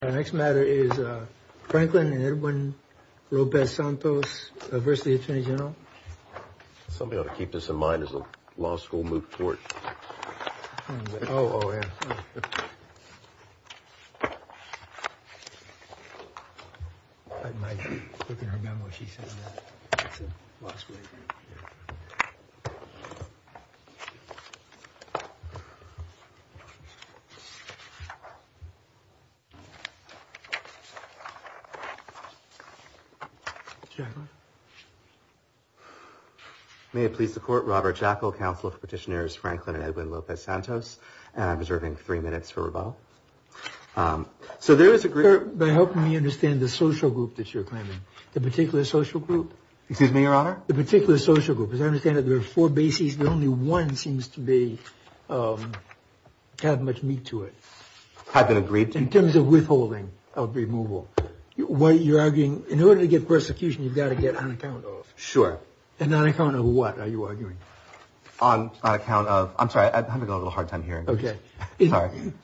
Our next matter is Franklin and Edwin Lopez-Santos v. Atty. Gen. Somebody ought to keep this in mind as the law school moved forward. Oh, oh, yeah. I might look in her memo what she said last week. Jacqueline? May it please the court, Robert Jekyll, counsel for petitioners Franklin and Edwin Lopez-Santos. And I'm reserving three minutes for rebuttal. So there is a group. By helping me understand the social group that you're claiming, the particular social group. Excuse me, your honor. The particular social group. As I understand it, there are four bases. The only one seems to be kind of much meat to it. Had been agreed to. In terms of withholding of removal. You're arguing in order to get persecution, you've got to get on account of. Sure. And on account of what are you arguing? On account of. I'm sorry, I'm having a little hard time hearing. OK.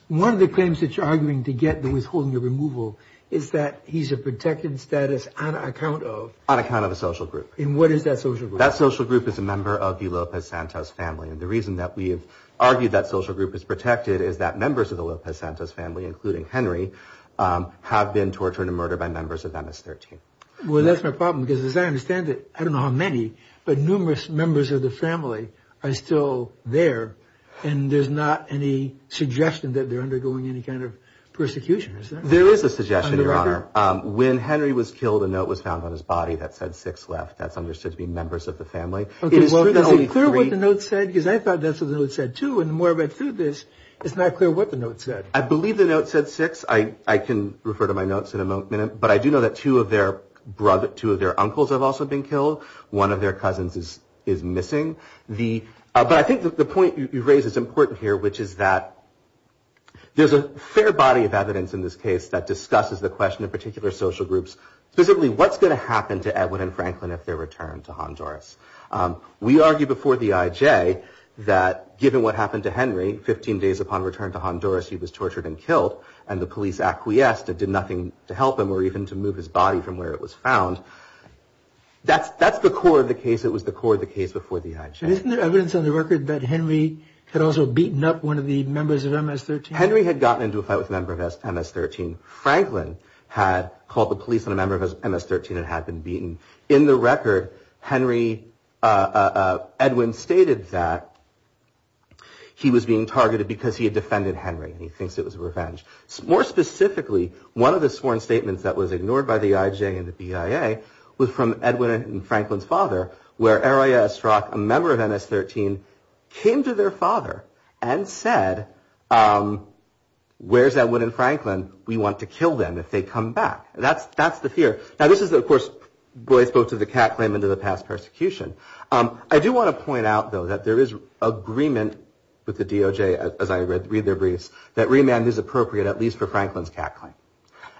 One of the claims that you're arguing to get the withholding of removal is that he's a protected status on account of. On account of a social group. And what is that social group? That social group is a member of the Lopez-Santos family. And the reason that we have argued that social group is protected is that members of the Lopez-Santos family, including Henry, have been tortured and murdered by members of MS-13. Well, that's my problem, because as I understand it, I don't know how many, but numerous members of the family are still there. And there's not any suggestion that they're undergoing any kind of persecution, is there? There is a suggestion, your honor. When Henry was killed, a note was found on his body that said six left. That's understood to be members of the family. Well, is it clear what the note said? Because I thought that's what the note said, too. And the more I read through this, it's not clear what the note said. I believe the note said six. I can refer to my notes in a minute. But I do know that two of their uncles have also been killed. One of their cousins is missing. But I think the point you raise is important here, which is that there's a fair body of evidence in this case that discusses the question of particular social groups. Specifically, what's going to happen to Edward and Franklin if they're returned to Honduras? We argue before the IJ that given what happened to Henry 15 days upon return to Honduras, he was tortured and killed, and the police acquiesced and did nothing to help him or even to move his body from where it was found. That's the core of the case. It was the core of the case before the IJ. Isn't there evidence on the record that Henry had also beaten up one of the members of MS-13? Henry had gotten into a fight with a member of MS-13. Franklin had called the police on a member of MS-13 and had been beaten. In the record, Henry Edwin stated that he was being targeted because he had defended Henry and he thinks it was revenge. More specifically, one of the sworn statements that was ignored by the IJ and the BIA was from Edwin and Franklin's father, where Aria Estrock, a member of MS-13, came to their father and said, where's Edwin and Franklin? We want to kill them if they come back. That's the fear. Now, this is, of course, what I spoke to the Catt claim and to the past persecution. I do want to point out, though, that there is agreement with the DOJ, as I read their briefs, that remand is appropriate, at least for Franklin's Catt claim.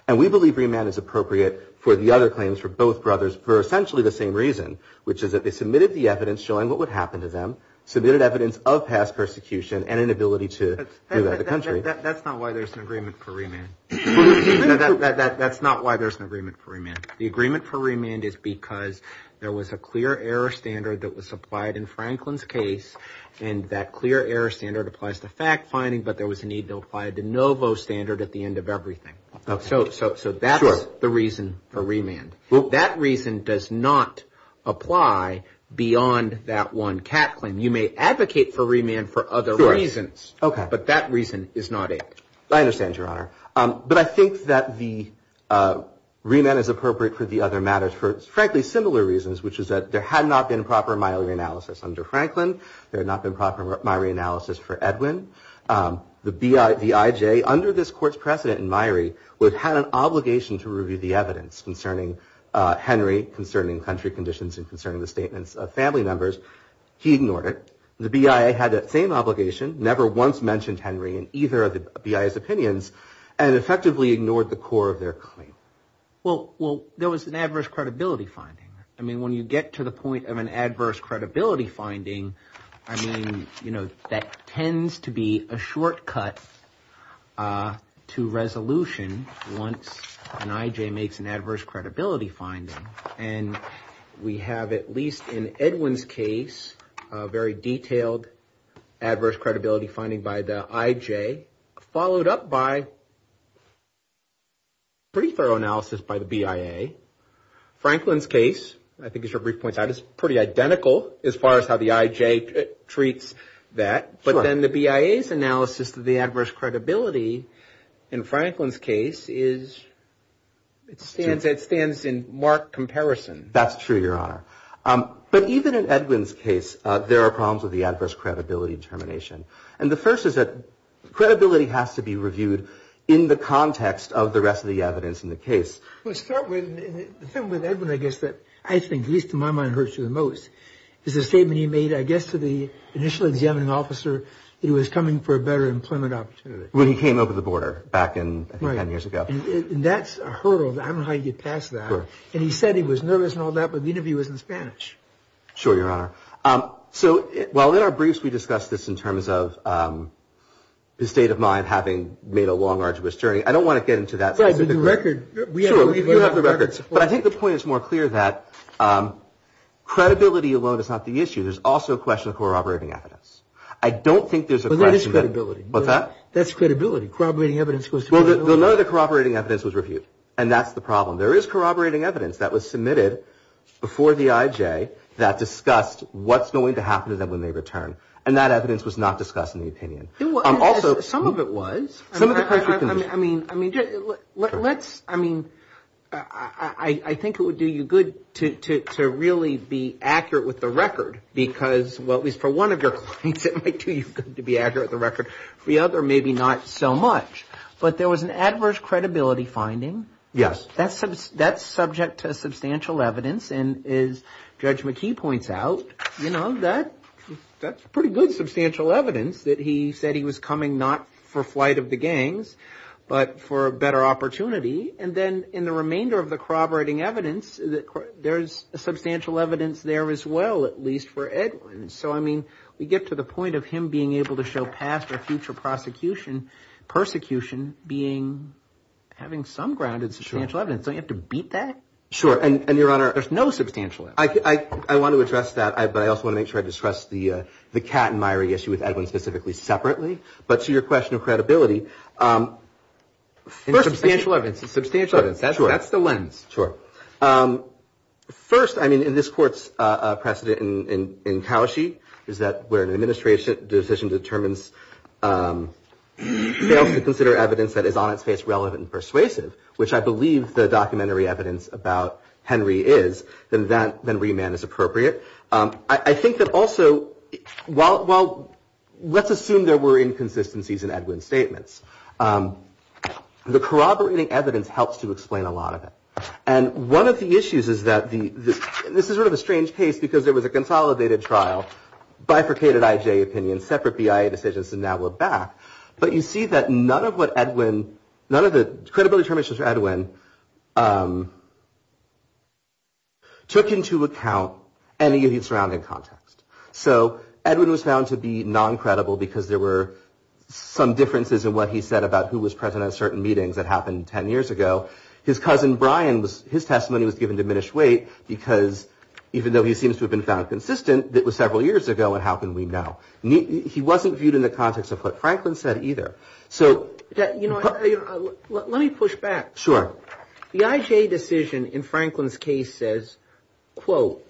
And we believe remand is appropriate for the other claims, for both brothers, for essentially the same reason, which is that they submitted the evidence showing what would happen to them, submitted evidence of past persecution and inability to do that to the country. That's not why there's an agreement for remand. That's not why there's an agreement for remand. The agreement for remand is because there was a clear error standard that was applied in Franklin's case, and that clear error standard applies to fact finding, but there was a need to apply a de novo standard at the end of everything. So that's the reason for remand. That reason does not apply beyond that one Catt claim. You may advocate for remand for other reasons, but that reason is not it. I understand, Your Honor. But I think that the remand is appropriate for the other matters for, frankly, similar reasons, which is that there had not been proper miliary analysis under Franklin. There had not been proper miliary analysis for Edwin. The BIJ, under this court's precedent in miliary, would have had an obligation to review the evidence concerning Henry, concerning country conditions and concerning the statements of family members. He ignored it. The BIA had that same obligation, never once mentioned Henry in either of the BIA's opinions, and effectively ignored the core of their claim. Well, there was an adverse credibility finding. I mean, when you get to the point of an adverse credibility finding, I mean, you know, that tends to be a shortcut to resolution once an IJ makes an adverse credibility finding. And we have, at least in Edwin's case, a very detailed adverse credibility finding by the IJ, followed up by pretty thorough analysis by the BIA. Franklin's case, I think as your brief points out, is pretty identical as far as how the IJ treats that. But then the BIA's analysis of the adverse credibility in Franklin's case is, it stands in marked comparison. That's true, Your Honor. But even in Edwin's case, there are problems with the adverse credibility determination. And the first is that credibility has to be reviewed in the context of the rest of the evidence in the case. Well, to start with, the thing with Edwin, I guess, that I think, at least in my mind, hurts you the most, is the statement he made, I guess, to the initial examining officer that he was coming for a better employment opportunity. When he came over the border back in, I think, ten years ago. And that's a hurdle. I don't know how you get past that. And he said he was nervous and all that, but the interview was in Spanish. Sure, Your Honor. So, well, in our briefs we discussed this in terms of his state of mind having made a long, arduous journey. I don't want to get into that. The record, we have the records. But I think the point is more clear that credibility alone is not the issue. There's also a question of corroborating evidence. I don't think there's a question. Well, there is credibility. What's that? That's credibility. Corroborating evidence goes to credibility. Well, none of the corroborating evidence was reviewed. And that's the problem. There is corroborating evidence that was submitted before the IJ that discussed what's going to happen to them when they return. And that evidence was not discussed in the opinion. Some of it was. I mean, let's, I mean, I think it would do you good to really be accurate with the record. Because, well, at least for one of your claims it might do you good to be accurate with the record. For the other, maybe not so much. But there was an adverse credibility finding. Yes. That's subject to substantial evidence. And as Judge McKee points out, you know, that's pretty good substantial evidence that he said he was coming not for flight of the gangs, but for a better opportunity. And then in the remainder of the corroborating evidence, there's substantial evidence there as well, at least for Edwin. So, I mean, we get to the point of him being able to show past or future prosecution, persecution being having some grounded substantial evidence. Don't you have to beat that? Sure. And, Your Honor. There's no substantial evidence. I want to address that. But I also want to make sure I discuss the Kattenmeier issue with Edwin specifically separately. But to your question of credibility. Substantial evidence. Substantial evidence. That's the lens. Sure. First, I mean, in this court's precedent in Kaushi is that where an administration decision determines fails to consider evidence that is on its face relevant and persuasive, which I believe the documentary evidence about Henry is, then remand is appropriate. I think that also, well, let's assume there were inconsistencies in Edwin's statements. The corroborating evidence helps to explain a lot of it. And one of the issues is that this is sort of a strange case because there was a consolidated trial, bifurcated IJ opinions, separate BIA decisions. And now we're back. But you see that none of what Edwin, none of the credibility of Edwin. Took into account any of the surrounding context. So Edwin was found to be non-credible because there were some differences in what he said about who was present at certain meetings that happened 10 years ago. His cousin, Brian, was his testimony was given diminished weight because even though he seems to have been found consistent, it was several years ago. And how can we know? He wasn't viewed in the context of what Franklin said either. So, you know, let me push back. Sure. The IJ decision in Franklin's case says, quote,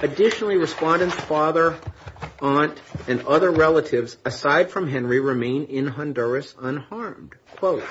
Additionally, respondents, father, aunt and other relatives, aside from Henry, remain in Honduras unharmed. Quote.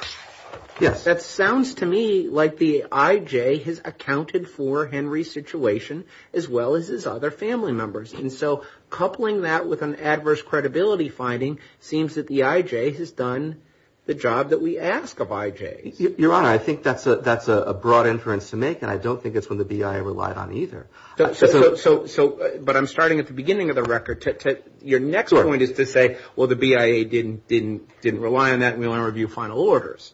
Yes. That sounds to me like the IJ has accounted for Henry's situation as well as his other family members. And so coupling that with an adverse credibility finding seems that the IJ has done the job that we ask of IJ. Your Honor, I think that's a that's a broad inference to make. And I don't think it's when the BIA relied on either. So. So. But I'm starting at the beginning of the record. Your next point is to say, well, the BIA didn't didn't didn't rely on that. We want to review final orders.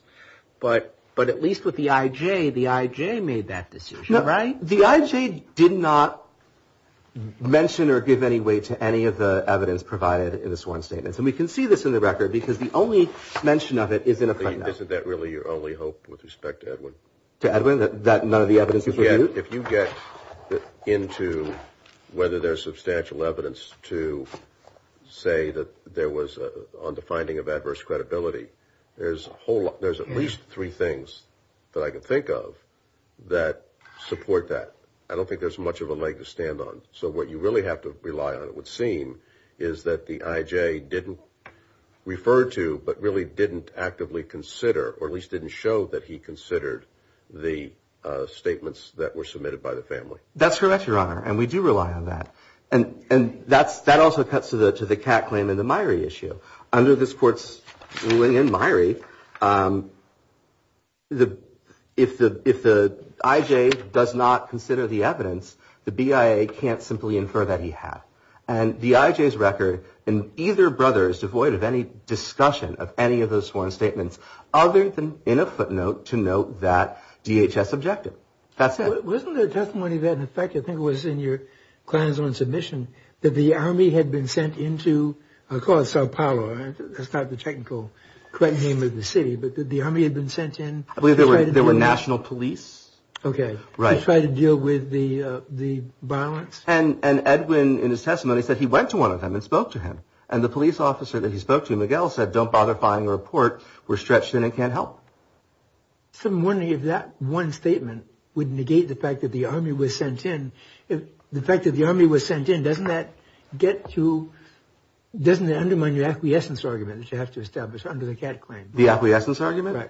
But but at least with the IJ, the IJ made that decision. Right. The IJ did not mention or give any weight to any of the evidence provided in this one statement. And we can see this in the record because the only mention of it is in a. Isn't that really your only hope with respect to Edwin? To Edwin, that none of the evidence. If you get into whether there's substantial evidence to say that there was on the finding of adverse credibility, there's a whole lot. There's at least three things that I can think of that support that. I don't think there's much of a leg to stand on. So what you really have to rely on, it would seem, is that the IJ didn't refer to, but really didn't actively consider or at least didn't show that he considered the statements that were submitted by the family. That's correct, Your Honor. And we do rely on that. And and that's that also cuts to the to the Kat claim in the Myrie issue. Under this court's ruling in Myrie. The if the if the IJ does not consider the evidence, the BIA can't simply infer that he had and the IJ's record and either brother is devoid of any discussion of any of those sworn statements other than in a footnote to note that DHS objective. That's it wasn't a testimony that in effect, I think it was in your client's own submission that the army had been sent into, of course, Sao Paulo. That's not the technical correct name of the city, but the army had been sent in. I believe there were there were national police. OK. Right. Try to deal with the the violence. And Edwin, in his testimony, said he went to one of them and spoke to him. And the police officer that he spoke to, Miguel, said, don't bother finding a report. We're stretched in and can't help some money. If that one statement would negate the fact that the army was sent in, doesn't that get to doesn't undermine your acquiescence argument that you have to establish under the cat claim? The acquiescence argument.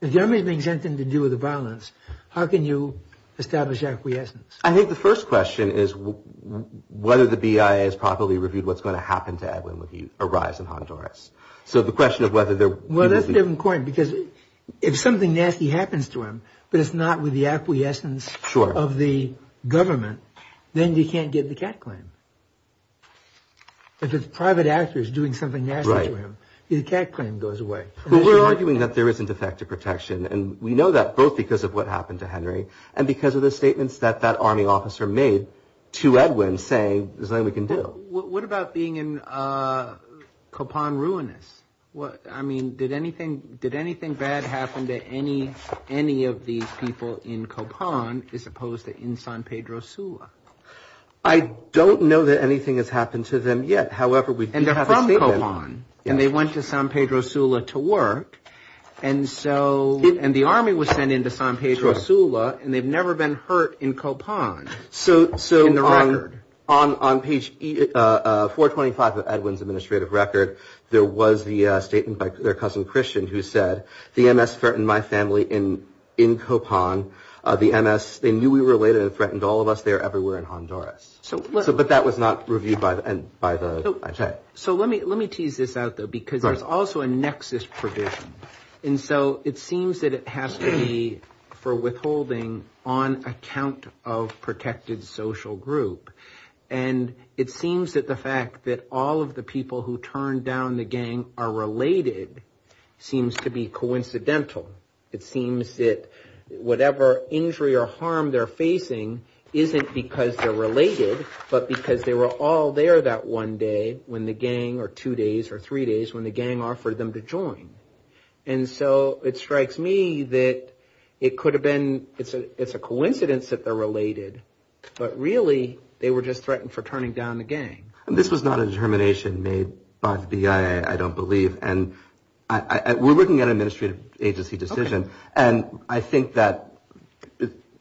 If the army is being sent in to deal with the violence, how can you establish acquiescence? I think the first question is whether the BIA is properly reviewed. What's going to happen to Edwin when he arrives in Honduras? So the question of whether they're well, that's important because if something nasty happens to him, but it's not with the acquiescence of the government, then you can't get the cat claim. If it's private actors doing something right, the cat claim goes away. But we're arguing that there isn't effective protection. And we know that both because of what happened to Henry and because of the statements that that army officer made to Edwin, saying there's nothing we can do. What about being in Copan ruinous? Well, I mean, did anything did anything bad happen to any any of these people in Copan as opposed to in San Pedro Sula? I don't know that anything has happened to them yet. However, we ended up on and they went to San Pedro Sula to work. And so and the army was sent into San Pedro Sula and they've never been hurt in Copan. So on page four, twenty five of Edwin's administrative record, there was the statement by their cousin Christian who said the MS threatened my family in in Copan, the MS. They knew we were related and threatened all of us there everywhere in Honduras. So but that was not reviewed by the. So let me let me tease this out, though, because there's also a nexus provision. And so it seems that it has to be for withholding on account of protected social group. And it seems that the fact that all of the people who turned down the gang are related seems to be coincidental. It seems that whatever injury or harm they're facing isn't because they're related, but because they were all there that one day when the gang or two days or three days when the gang offered them to join. And so it strikes me that it could have been. It's a it's a coincidence that they're related. But really, they were just threatened for turning down the gang. And this was not a determination made by the BIA, I don't believe. And we're looking at an administrative agency decision. And I think that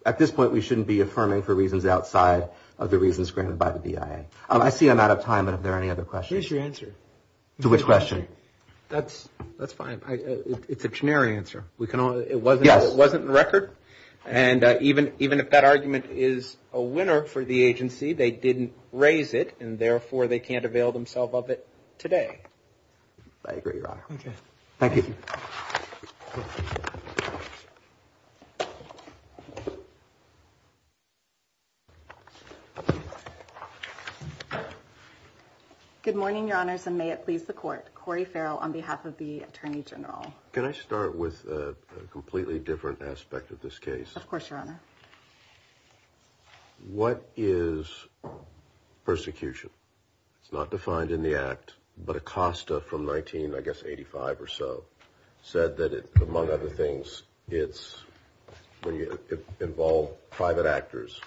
at this point, we shouldn't be affirming for reasons outside of the reasons granted by the BIA. I see I'm out of time. Are there any other questions? Here's your answer. To which question? That's that's fine. It's a generic answer. We can. It was. It wasn't the record. And even even if that argument is a winner for the agency, they didn't raise it. And therefore, they can't avail themselves of it today. I agree. Thank you. Good morning, your honors. And may it please the court. Corey Farrell on behalf of the attorney general. Can I start with a completely different aspect of this case? Of course, your honor. What is persecution? It's not defined in the act, but Acosta from 19, I guess, 85 or so said that, among other things, it's when you involve private actors,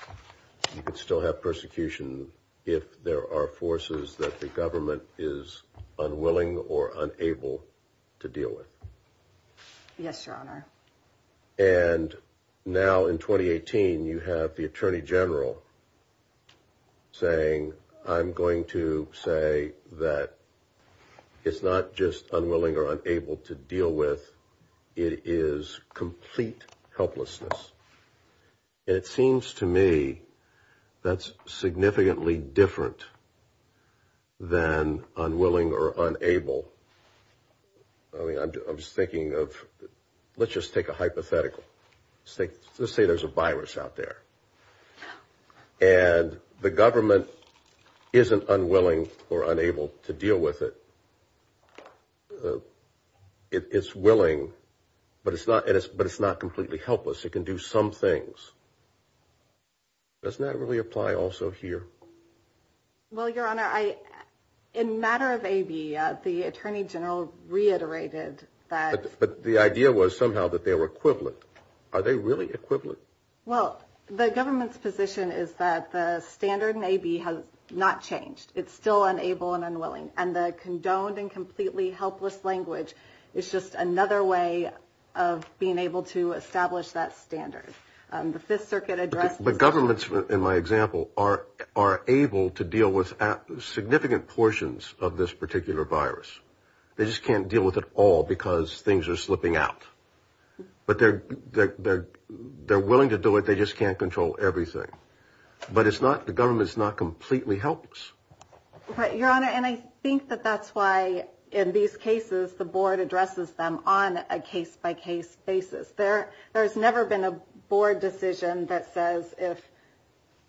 you can still have persecution if there are forces that the government is unwilling or unable to deal with. Yes, your honor. And now in 2018, you have the attorney general saying, I'm going to say that it's not just unwilling or unable to deal with. It is complete helplessness. It seems to me that's significantly different than unwilling or unable. I mean, I'm just thinking of let's just take a hypothetical state. Let's say there's a virus out there and the government isn't unwilling or unable to deal with it. It's willing, but it's not. But it's not completely helpless. It can do some things. Doesn't that really apply also here? Well, your honor, in matter of AB, the attorney general reiterated that. But the idea was somehow that they were equivalent. Are they really equivalent? Well, the government's position is that the standard in AB has not changed. It's still unable and unwilling. And the condoned and completely helpless language is just another way of being able to establish that standard. But governments, in my example, are able to deal with significant portions of this particular virus. They just can't deal with it all because things are slipping out. But they're willing to do it. They just can't control everything. But it's not the government's not completely helpless. But your honor, and I think that that's why in these cases, the board addresses them on a case by case basis. There's never been a board decision that says if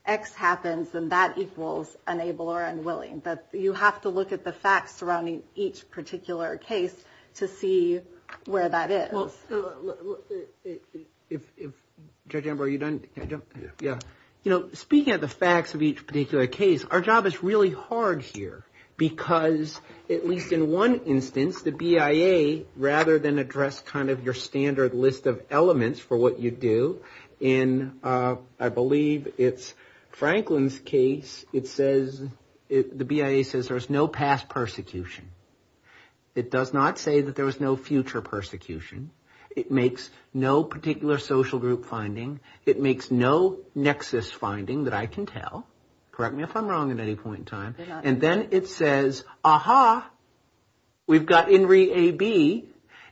X happens, then that equals unable or unwilling. You have to look at the facts surrounding each particular case to see where that is. Speaking of the facts of each particular case, our job is really hard here. Because at least in one instance, the BIA, rather than address kind of your standard list of elements for what you do, in I believe it's Franklin's case, it says, the BIA says there's no past persecution. It does not say that there was no future persecution. It makes no particular social group finding. It makes no nexus finding that I can tell. And then it says, aha, we've got INRI A.B.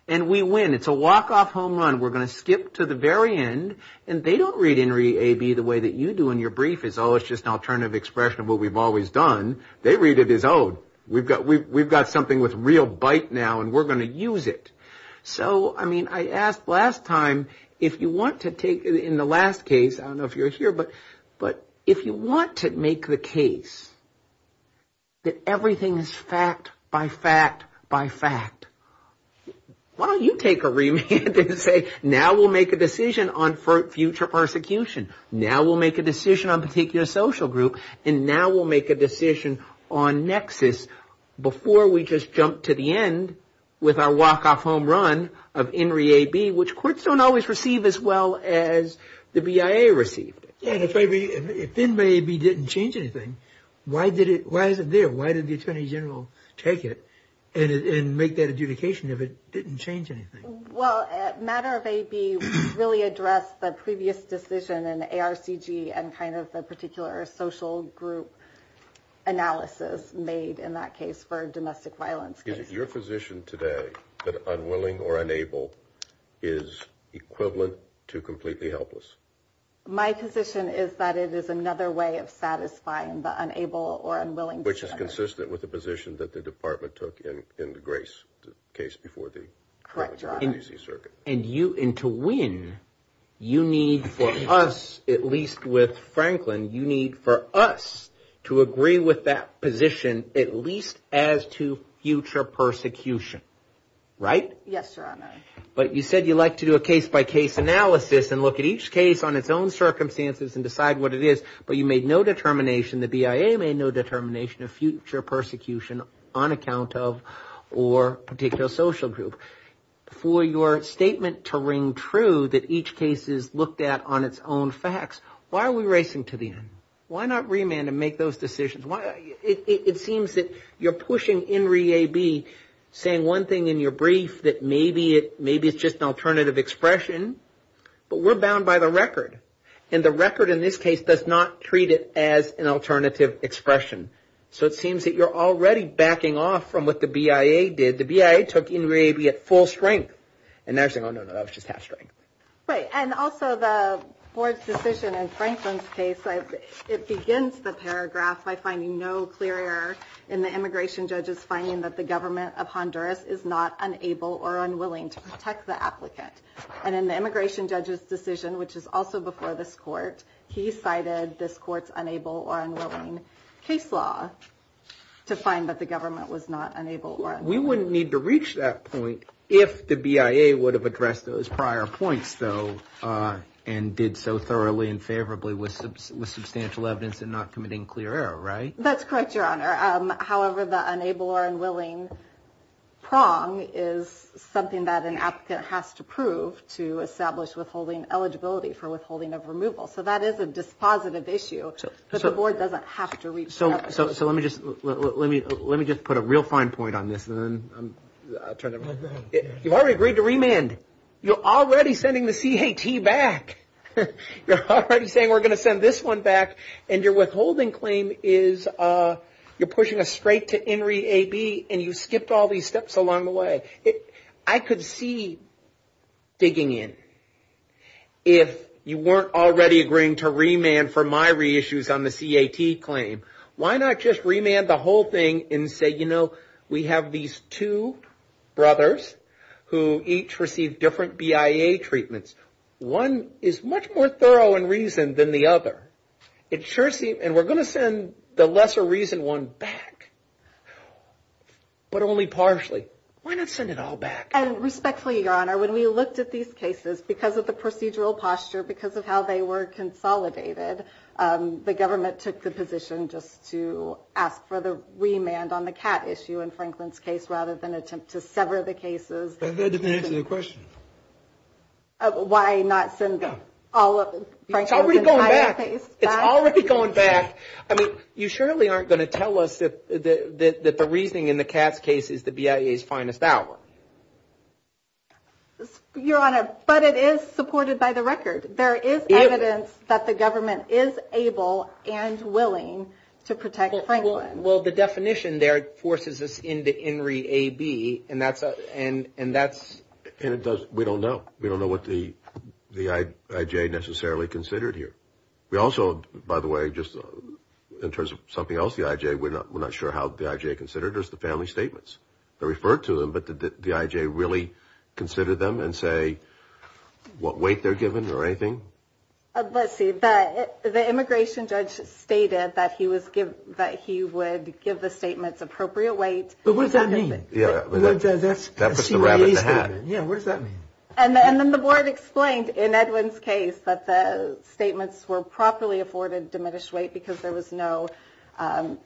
and we win. It's a walk off home run. We're going to skip to the very end. And they don't read INRI A.B. the way that you do in your brief is, oh, it's just an alternative expression of what we've always done. They read it as, oh, we've got something with real bite now and we're going to use it. So, I mean, I asked last time, if you want to take in the last case, I don't know if you're here, but if you want to make the case that everything is fact by fact by fact, why don't you take a remand and say, now we'll make a decision on future persecution. Now we'll make a decision on particular social group. And now we'll make a decision on nexus before we just jump to the end with our walk off home run of INRI A.B., which courts don't always receive as well as the BIA received it. If INRI A.B. didn't change anything, why is it there? Why did the Attorney General take it and make that adjudication if it didn't change anything? Well, matter of A.B. really addressed the previous decision in ARCG and kind of the particular social group analysis made in that case for domestic violence. Is it your position today that unwilling or unable is equivalent to completely helpless? My position is that it is another way of satisfying the unable or unwilling. Which is consistent with the position that the department took in the Grace case before the DC Circuit. And to win, you need for us, at least with Franklin, you need for us to agree with that position, at least as to future persecution. Right? Yes, Your Honor. But you said you like to do a case by case analysis and look at each case on its own circumstances and decide what it is. But you made no determination, the BIA made no determination of future persecution on account of or particular social group. For your statement to ring true that each case is looked at on its own facts, why are we racing to the end? Why not remand and make those decisions? It seems that you're pushing INRI A.B. saying one thing in your brief that maybe it's just an alternative expression. But we're bound by the record. And the record in this case does not treat it as an alternative expression. So it seems that you're already backing off from what the BIA did. The BIA took INRI A.B. at full strength. And they're saying, oh, no, no, that was just half strength. Right. And also the board's decision in Franklin's case, it begins the paragraph by finding no clear error in the immigration judge's finding that the government of Honduras is not unable or unwilling to protect the applicant. And in the immigration judge's decision, which is also before this court, he cited this court's unable or unwilling case law to find that the government was not unable or unwilling. We wouldn't need to reach that point if the BIA would have addressed those prior points, though, and did so thoroughly and favorably with substantial evidence and not committing clear error. Right. That's correct, Your Honor. However, the unable or unwilling prong is something that an applicant has to prove to establish withholding eligibility for withholding of removal. So that is a dispositive issue. But the board doesn't have to reach that point. So let me just put a real fine point on this and then I'll turn it over. You've already agreed to remand. You're already sending the C.A.T. back. You're already saying we're going to send this one back. And your withholding claim is you're pushing us straight to INRI A.B. and you skipped all these steps along the way. I could see digging in if you weren't already agreeing to remand for my reissues on the C.A.T. claim. Why not just remand the whole thing and say, you know, we have these two brothers who each receive different BIA treatments. One is much more thorough in reason than the other. It sure seems, and we're going to send the lesser reason one back, but only partially. We're going to send it all back. And respectfully, Your Honor, when we looked at these cases, because of the procedural posture, because of how they were consolidated, the government took the position just to ask for the remand on the C.A.T. issue in Franklin's case rather than attempt to sever the cases. That doesn't answer the question. Why not send all of Franklin's entire case back? It's already going back. I mean, you surely aren't going to tell us that the reasoning in the C.A.T. case is the BIA's finest hour. Your Honor, but it is supported by the record. There is evidence that the government is able and willing to protect Franklin. Well, the definition there forces us into INRI A.B. and that's... And we don't know. We don't know what the I.J. necessarily considered here. We also, by the way, just in terms of something else, the I.J., we're not sure how the I.J. considered. There's the family statements. They referred to them, but did the I.J. really consider them and say what weight they're given or anything? Let's see. The immigration judge stated that he would give the statements appropriate weight. But what does that mean? That's the C.A.A. statement. Yeah, what does that mean? And then the board explained in Edwin's case that the statements were properly afforded diminished weight because there was no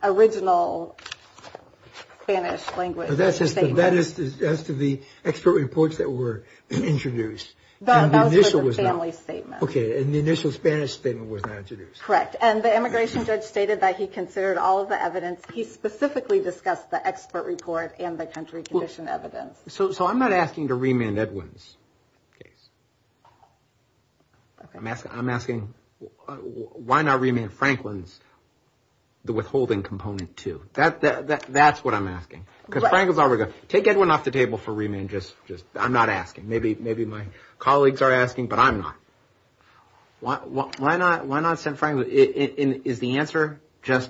original Spanish language statement. That is as to the expert reports that were introduced. That was for the family statement. Okay, and the initial Spanish statement was not introduced. Correct. And the immigration judge stated that he considered all of the evidence. He specifically discussed the expert report and the country condition evidence. So I'm not asking to remand Edwin's case. I'm asking why not remand Franklin's withholding component, too. That's what I'm asking. Take Edwin off the table for remand. I'm not asking. Maybe my colleagues are asking, but I'm not. Why not send Franklin? Is the answer just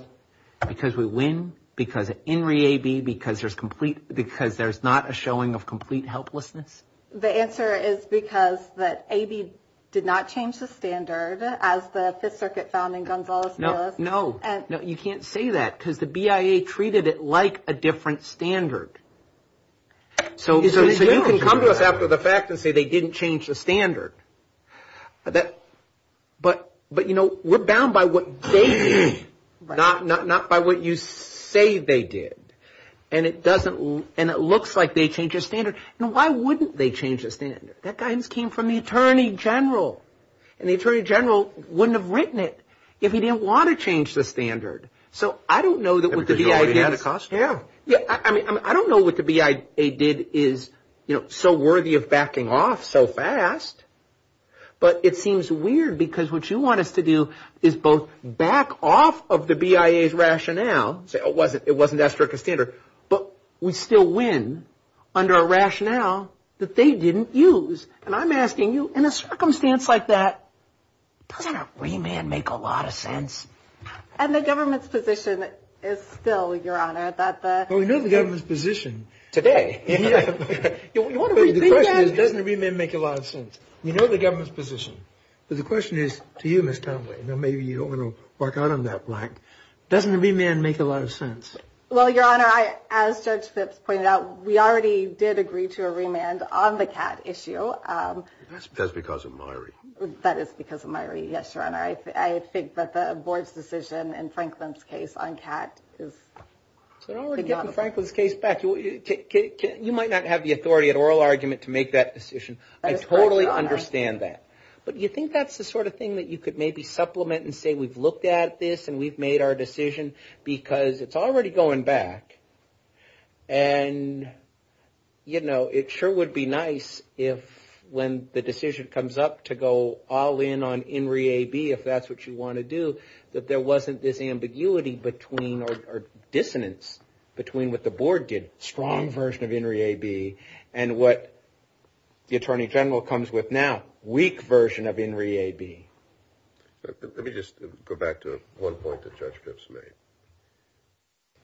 because we win? Because of Henry A.B.? Because there's not a showing of complete helplessness? The answer is because that A.B. did not change the standard as the Fifth Circuit found in Gonzales-Miles. No, you can't say that because the B.I.A. treated it like a different standard. So you can come to us after the fact and say they didn't change the standard. But, you know, we're bound by what they did, not by what you say they did. And it looks like they changed the standard. Now, why wouldn't they change the standard? That guidance came from the Attorney General. And the Attorney General wouldn't have written it if he didn't want to change the standard. So I don't know that what the B.I.A. did is so worthy of backing off so fast. But it seems weird because what you want us to do is both back off of the B.I.A.'s rationale, say it wasn't that strict a standard, but we still win under a rationale that they didn't use. And I'm asking you, in a circumstance like that, doesn't a remand make a lot of sense? And the government's position is still, Your Honor, that the... Well, we know the government's position today. The question is, doesn't a remand make a lot of sense? We know the government's position. But the question is, to you, Ms. Townsley, and maybe you don't want to bark out on that blank, doesn't a remand make a lot of sense? Well, Your Honor, as Judge Phipps pointed out, we already did agree to a remand on the CAT issue. That's because of Myrie. That is because of Myrie, yes, Your Honor. I think that the board's decision in Franklin's case on CAT is... So we're already getting Franklin's case back. You might not have the authority at oral argument to make that decision. I totally understand that. But do you think that's the sort of thing that you could maybe supplement and say, we've looked at this and we've made our decision because it's already going back. And, you know, it sure would be nice if when the decision comes up to go all in on In re A, B, if that's what you want to do, that there wasn't this ambiguity between or dissonance between what the board did, strong version of In re A, B, and what the Attorney General comes with now, weak version of In re A, B. Let me just go back to one point that Judge Phipps made.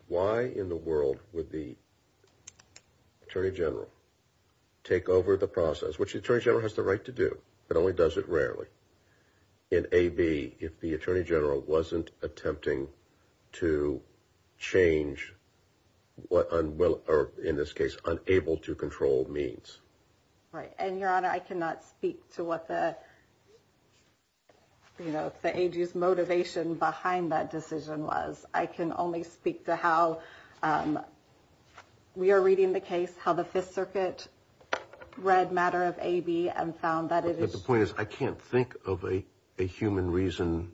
Why in the world would the Attorney General take over the process, which the Attorney General has the right to do, but only does it rarely, in A, B, if the Attorney General wasn't attempting to change what, or in this case, unable to control means? Right. And, Your Honor, I cannot speak to what the, you know, the AG's motivation behind that decision was. I can only speak to how we are reading the case, how the Fifth Circuit read matter of A, B, and found that it is. But the point is, I can't think of a human reason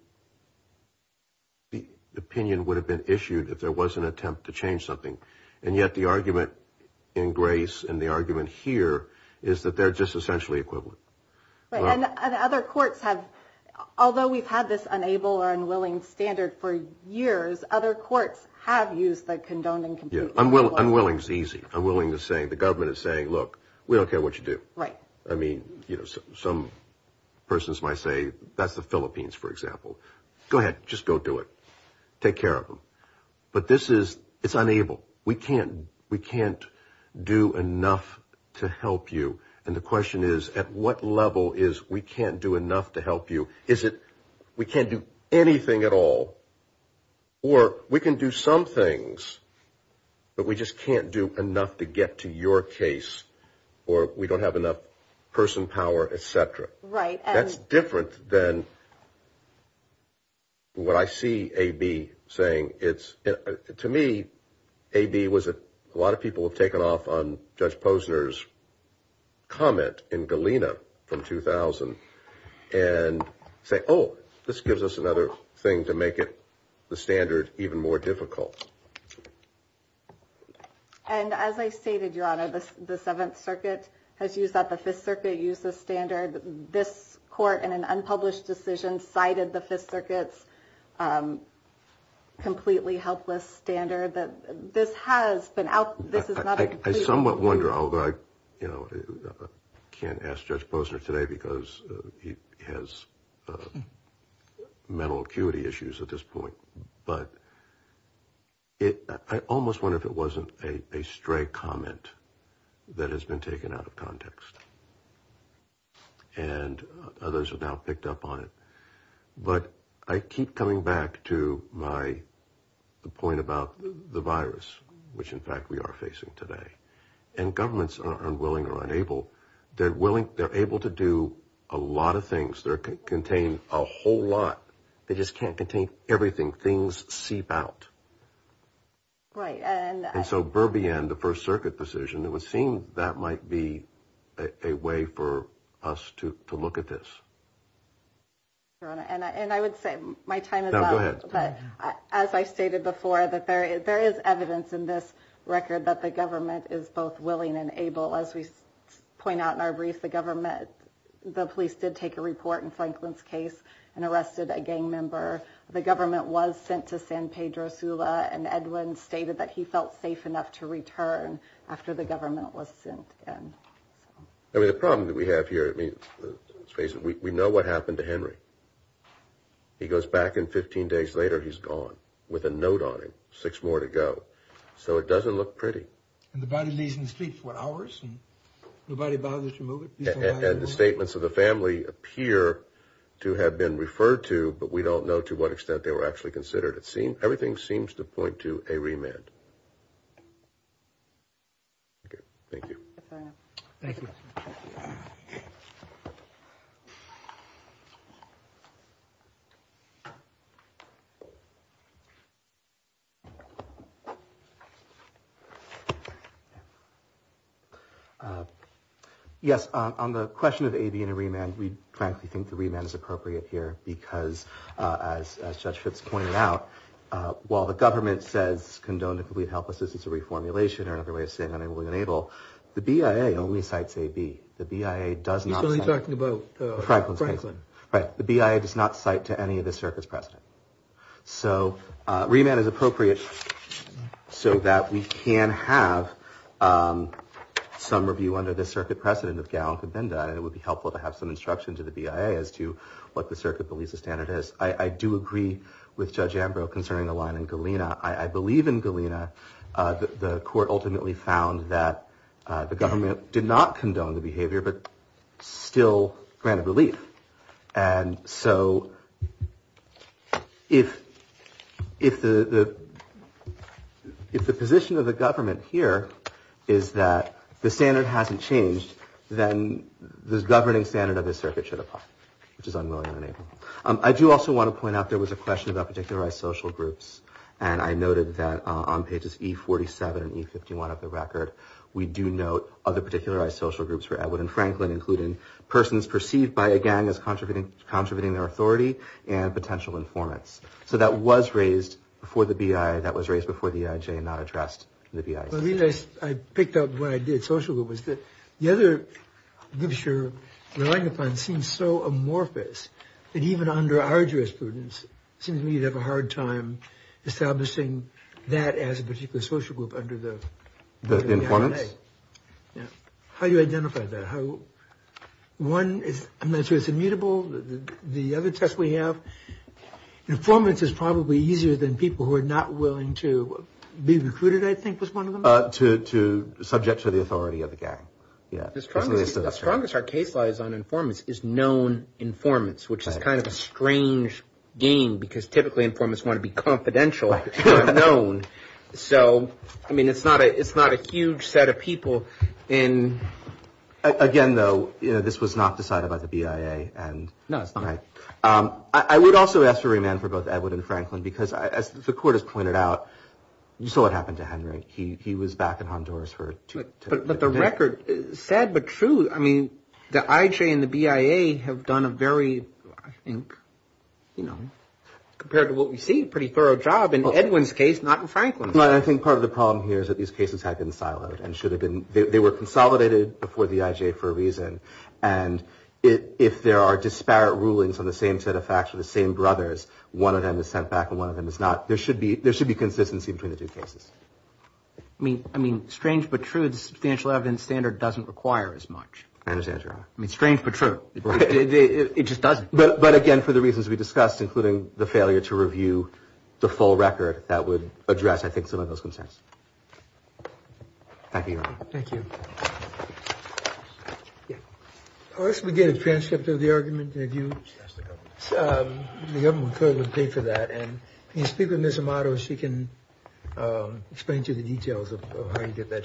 the opinion would have been issued if there was an attempt to change something. And yet the argument in Grace and the argument here is that they're just essentially equivalent. Right. And other courts have, although we've had this unable or unwilling standard for years, other courts have used the condoned and completely unwilling. Unwilling is easy. Unwilling is saying, the government is saying, look, we don't care what you do. You know, some persons might say, that's the Philippines, for example. Go ahead. Just go do it. Take care of them. But this is, it's unable. We can't, we can't do enough to help you. And the question is, at what level is we can't do enough to help you? Is it we can't do anything at all? Or we can do some things, but we just can't do enough to get to your case? Or we don't have enough person power, et cetera. Right. That's different than what I see A.B. saying. To me, A.B. was, a lot of people have taken off on Judge Posner's comment in Galena from 2000 and say, oh, this gives us another thing to make it, the standard, even more difficult. And as I stated, Your Honor, the Seventh Circuit has used that. The Fifth Circuit used the standard. This court, in an unpublished decision, cited the Fifth Circuit's completely helpless standard. That this has been out. This is not. I somewhat wonder, although I can't ask Judge Posner today because he has mental acuity issues at this point. But I almost wonder if it wasn't a stray comment that has been taken out of context. And others have now picked up on it. But I keep coming back to my point about the virus, which in fact we are facing today. And governments are unwilling or unable. They're willing, they're able to do a lot of things. They're able to contain a whole lot. They just can't contain everything. Things seep out. Right. And so Berbion, the First Circuit decision, it would seem that might be a way for us to look at this. Your Honor, and I would say my time is up. No, go ahead. But as I stated before, that there is evidence in this record that the government is both willing and able. As we point out in our brief, the government, the police did take a report in Franklin's case and arrested a gang member. The government was sent to San Pedro Sula and Edwin stated that he felt safe enough to return after the government was sent in. I mean, the problem that we have here, I mean, we know what happened to Henry. He goes back and 15 days later he's gone with a note on him, six more to go. So it doesn't look pretty. And the body lays in the street for hours and nobody bothers to move it. And the statements of the family appear to have been referred to, but we don't know to what extent they were actually considered. Everything seems to point to a remand. Thank you. Thank you. Yes, on the question of AB and a remand, we frankly think the remand is appropriate here because as Judge Fitz pointed out, while the government says, condone the complete helplessness, it's a reformulation or another way of saying unable and unable. The BIA only cites AB. The BIA does not. Are you talking about Franklin? Right. The BIA does not cite to any of the circuit's precedent. So remand is appropriate so that we can have some review under the circuit precedent of Gallant and Benda. And it would be helpful to have some instruction to the BIA as to what the circuit believes the standard is. I do agree with Judge Ambrose concerning the line in Galena. I believe in Galena. The court ultimately found that the government did not condone the behavior, but still granted relief. And so if the position of the government here is that the standard hasn't changed, then the governing standard of the circuit should apply, which is unwilling and unable. I do also want to point out there was a question about particularized social groups. And I noted that on pages E47 and E51 of the record, we do note other particularized social groups for Edward and Franklin, including persons perceived by a gang as contributing their authority and potential informants. So that was raised before the BIA. That was raised before the EIJ and not addressed in the BIA. The reason I picked up what I did, social group, was that the other literature relying upon seems so amorphous that even under our jurisprudence, it seems to me you'd have a hard time establishing that as a particular social group under the BIA. The informants? Yeah. How do you identify that? One, I'm not sure it's immutable. The other test we have, informants is probably easier than people who are not willing to be recruited, I think, was one of them. To subject to the authority of the gang. The strongest our case lies on informants is known informants, which is kind of a strange game, because typically informants want to be confidential, not known. So, I mean, it's not a huge set of people. Again, though, this was not decided by the BIA. No, it's not. I would also ask for remand for both Edward and Franklin, because as the court has pointed out, you saw what happened to Henry. He was back in Honduras for two days. But the record, sad but true, I mean, the EIJ and the BIA have done a very, I think, you know, compared to what we see, a pretty thorough job. In Edwin's case, not in Franklin's. I think part of the problem here is that these cases have been siloed and should have been. They were consolidated before the EIJ for a reason. And if there are disparate rulings on the same set of facts for the same brothers, one of them is sent back and one of them is not. There should be. There should be consistency between the two cases. I mean, I mean, strange but true. The substantial evidence standard doesn't require as much. I mean, strange but true. It just doesn't. But again, for the reasons we discussed, including the failure to review the full record, that would address, I think, some of those concerns. Thank you, Your Honor. Thank you. Yeah. Unless we get a transcript of the argument, have you? Ask the government. The government could pay for that. And if you speak with Ms. Amato, she can explain to you the details of how you get that transcript.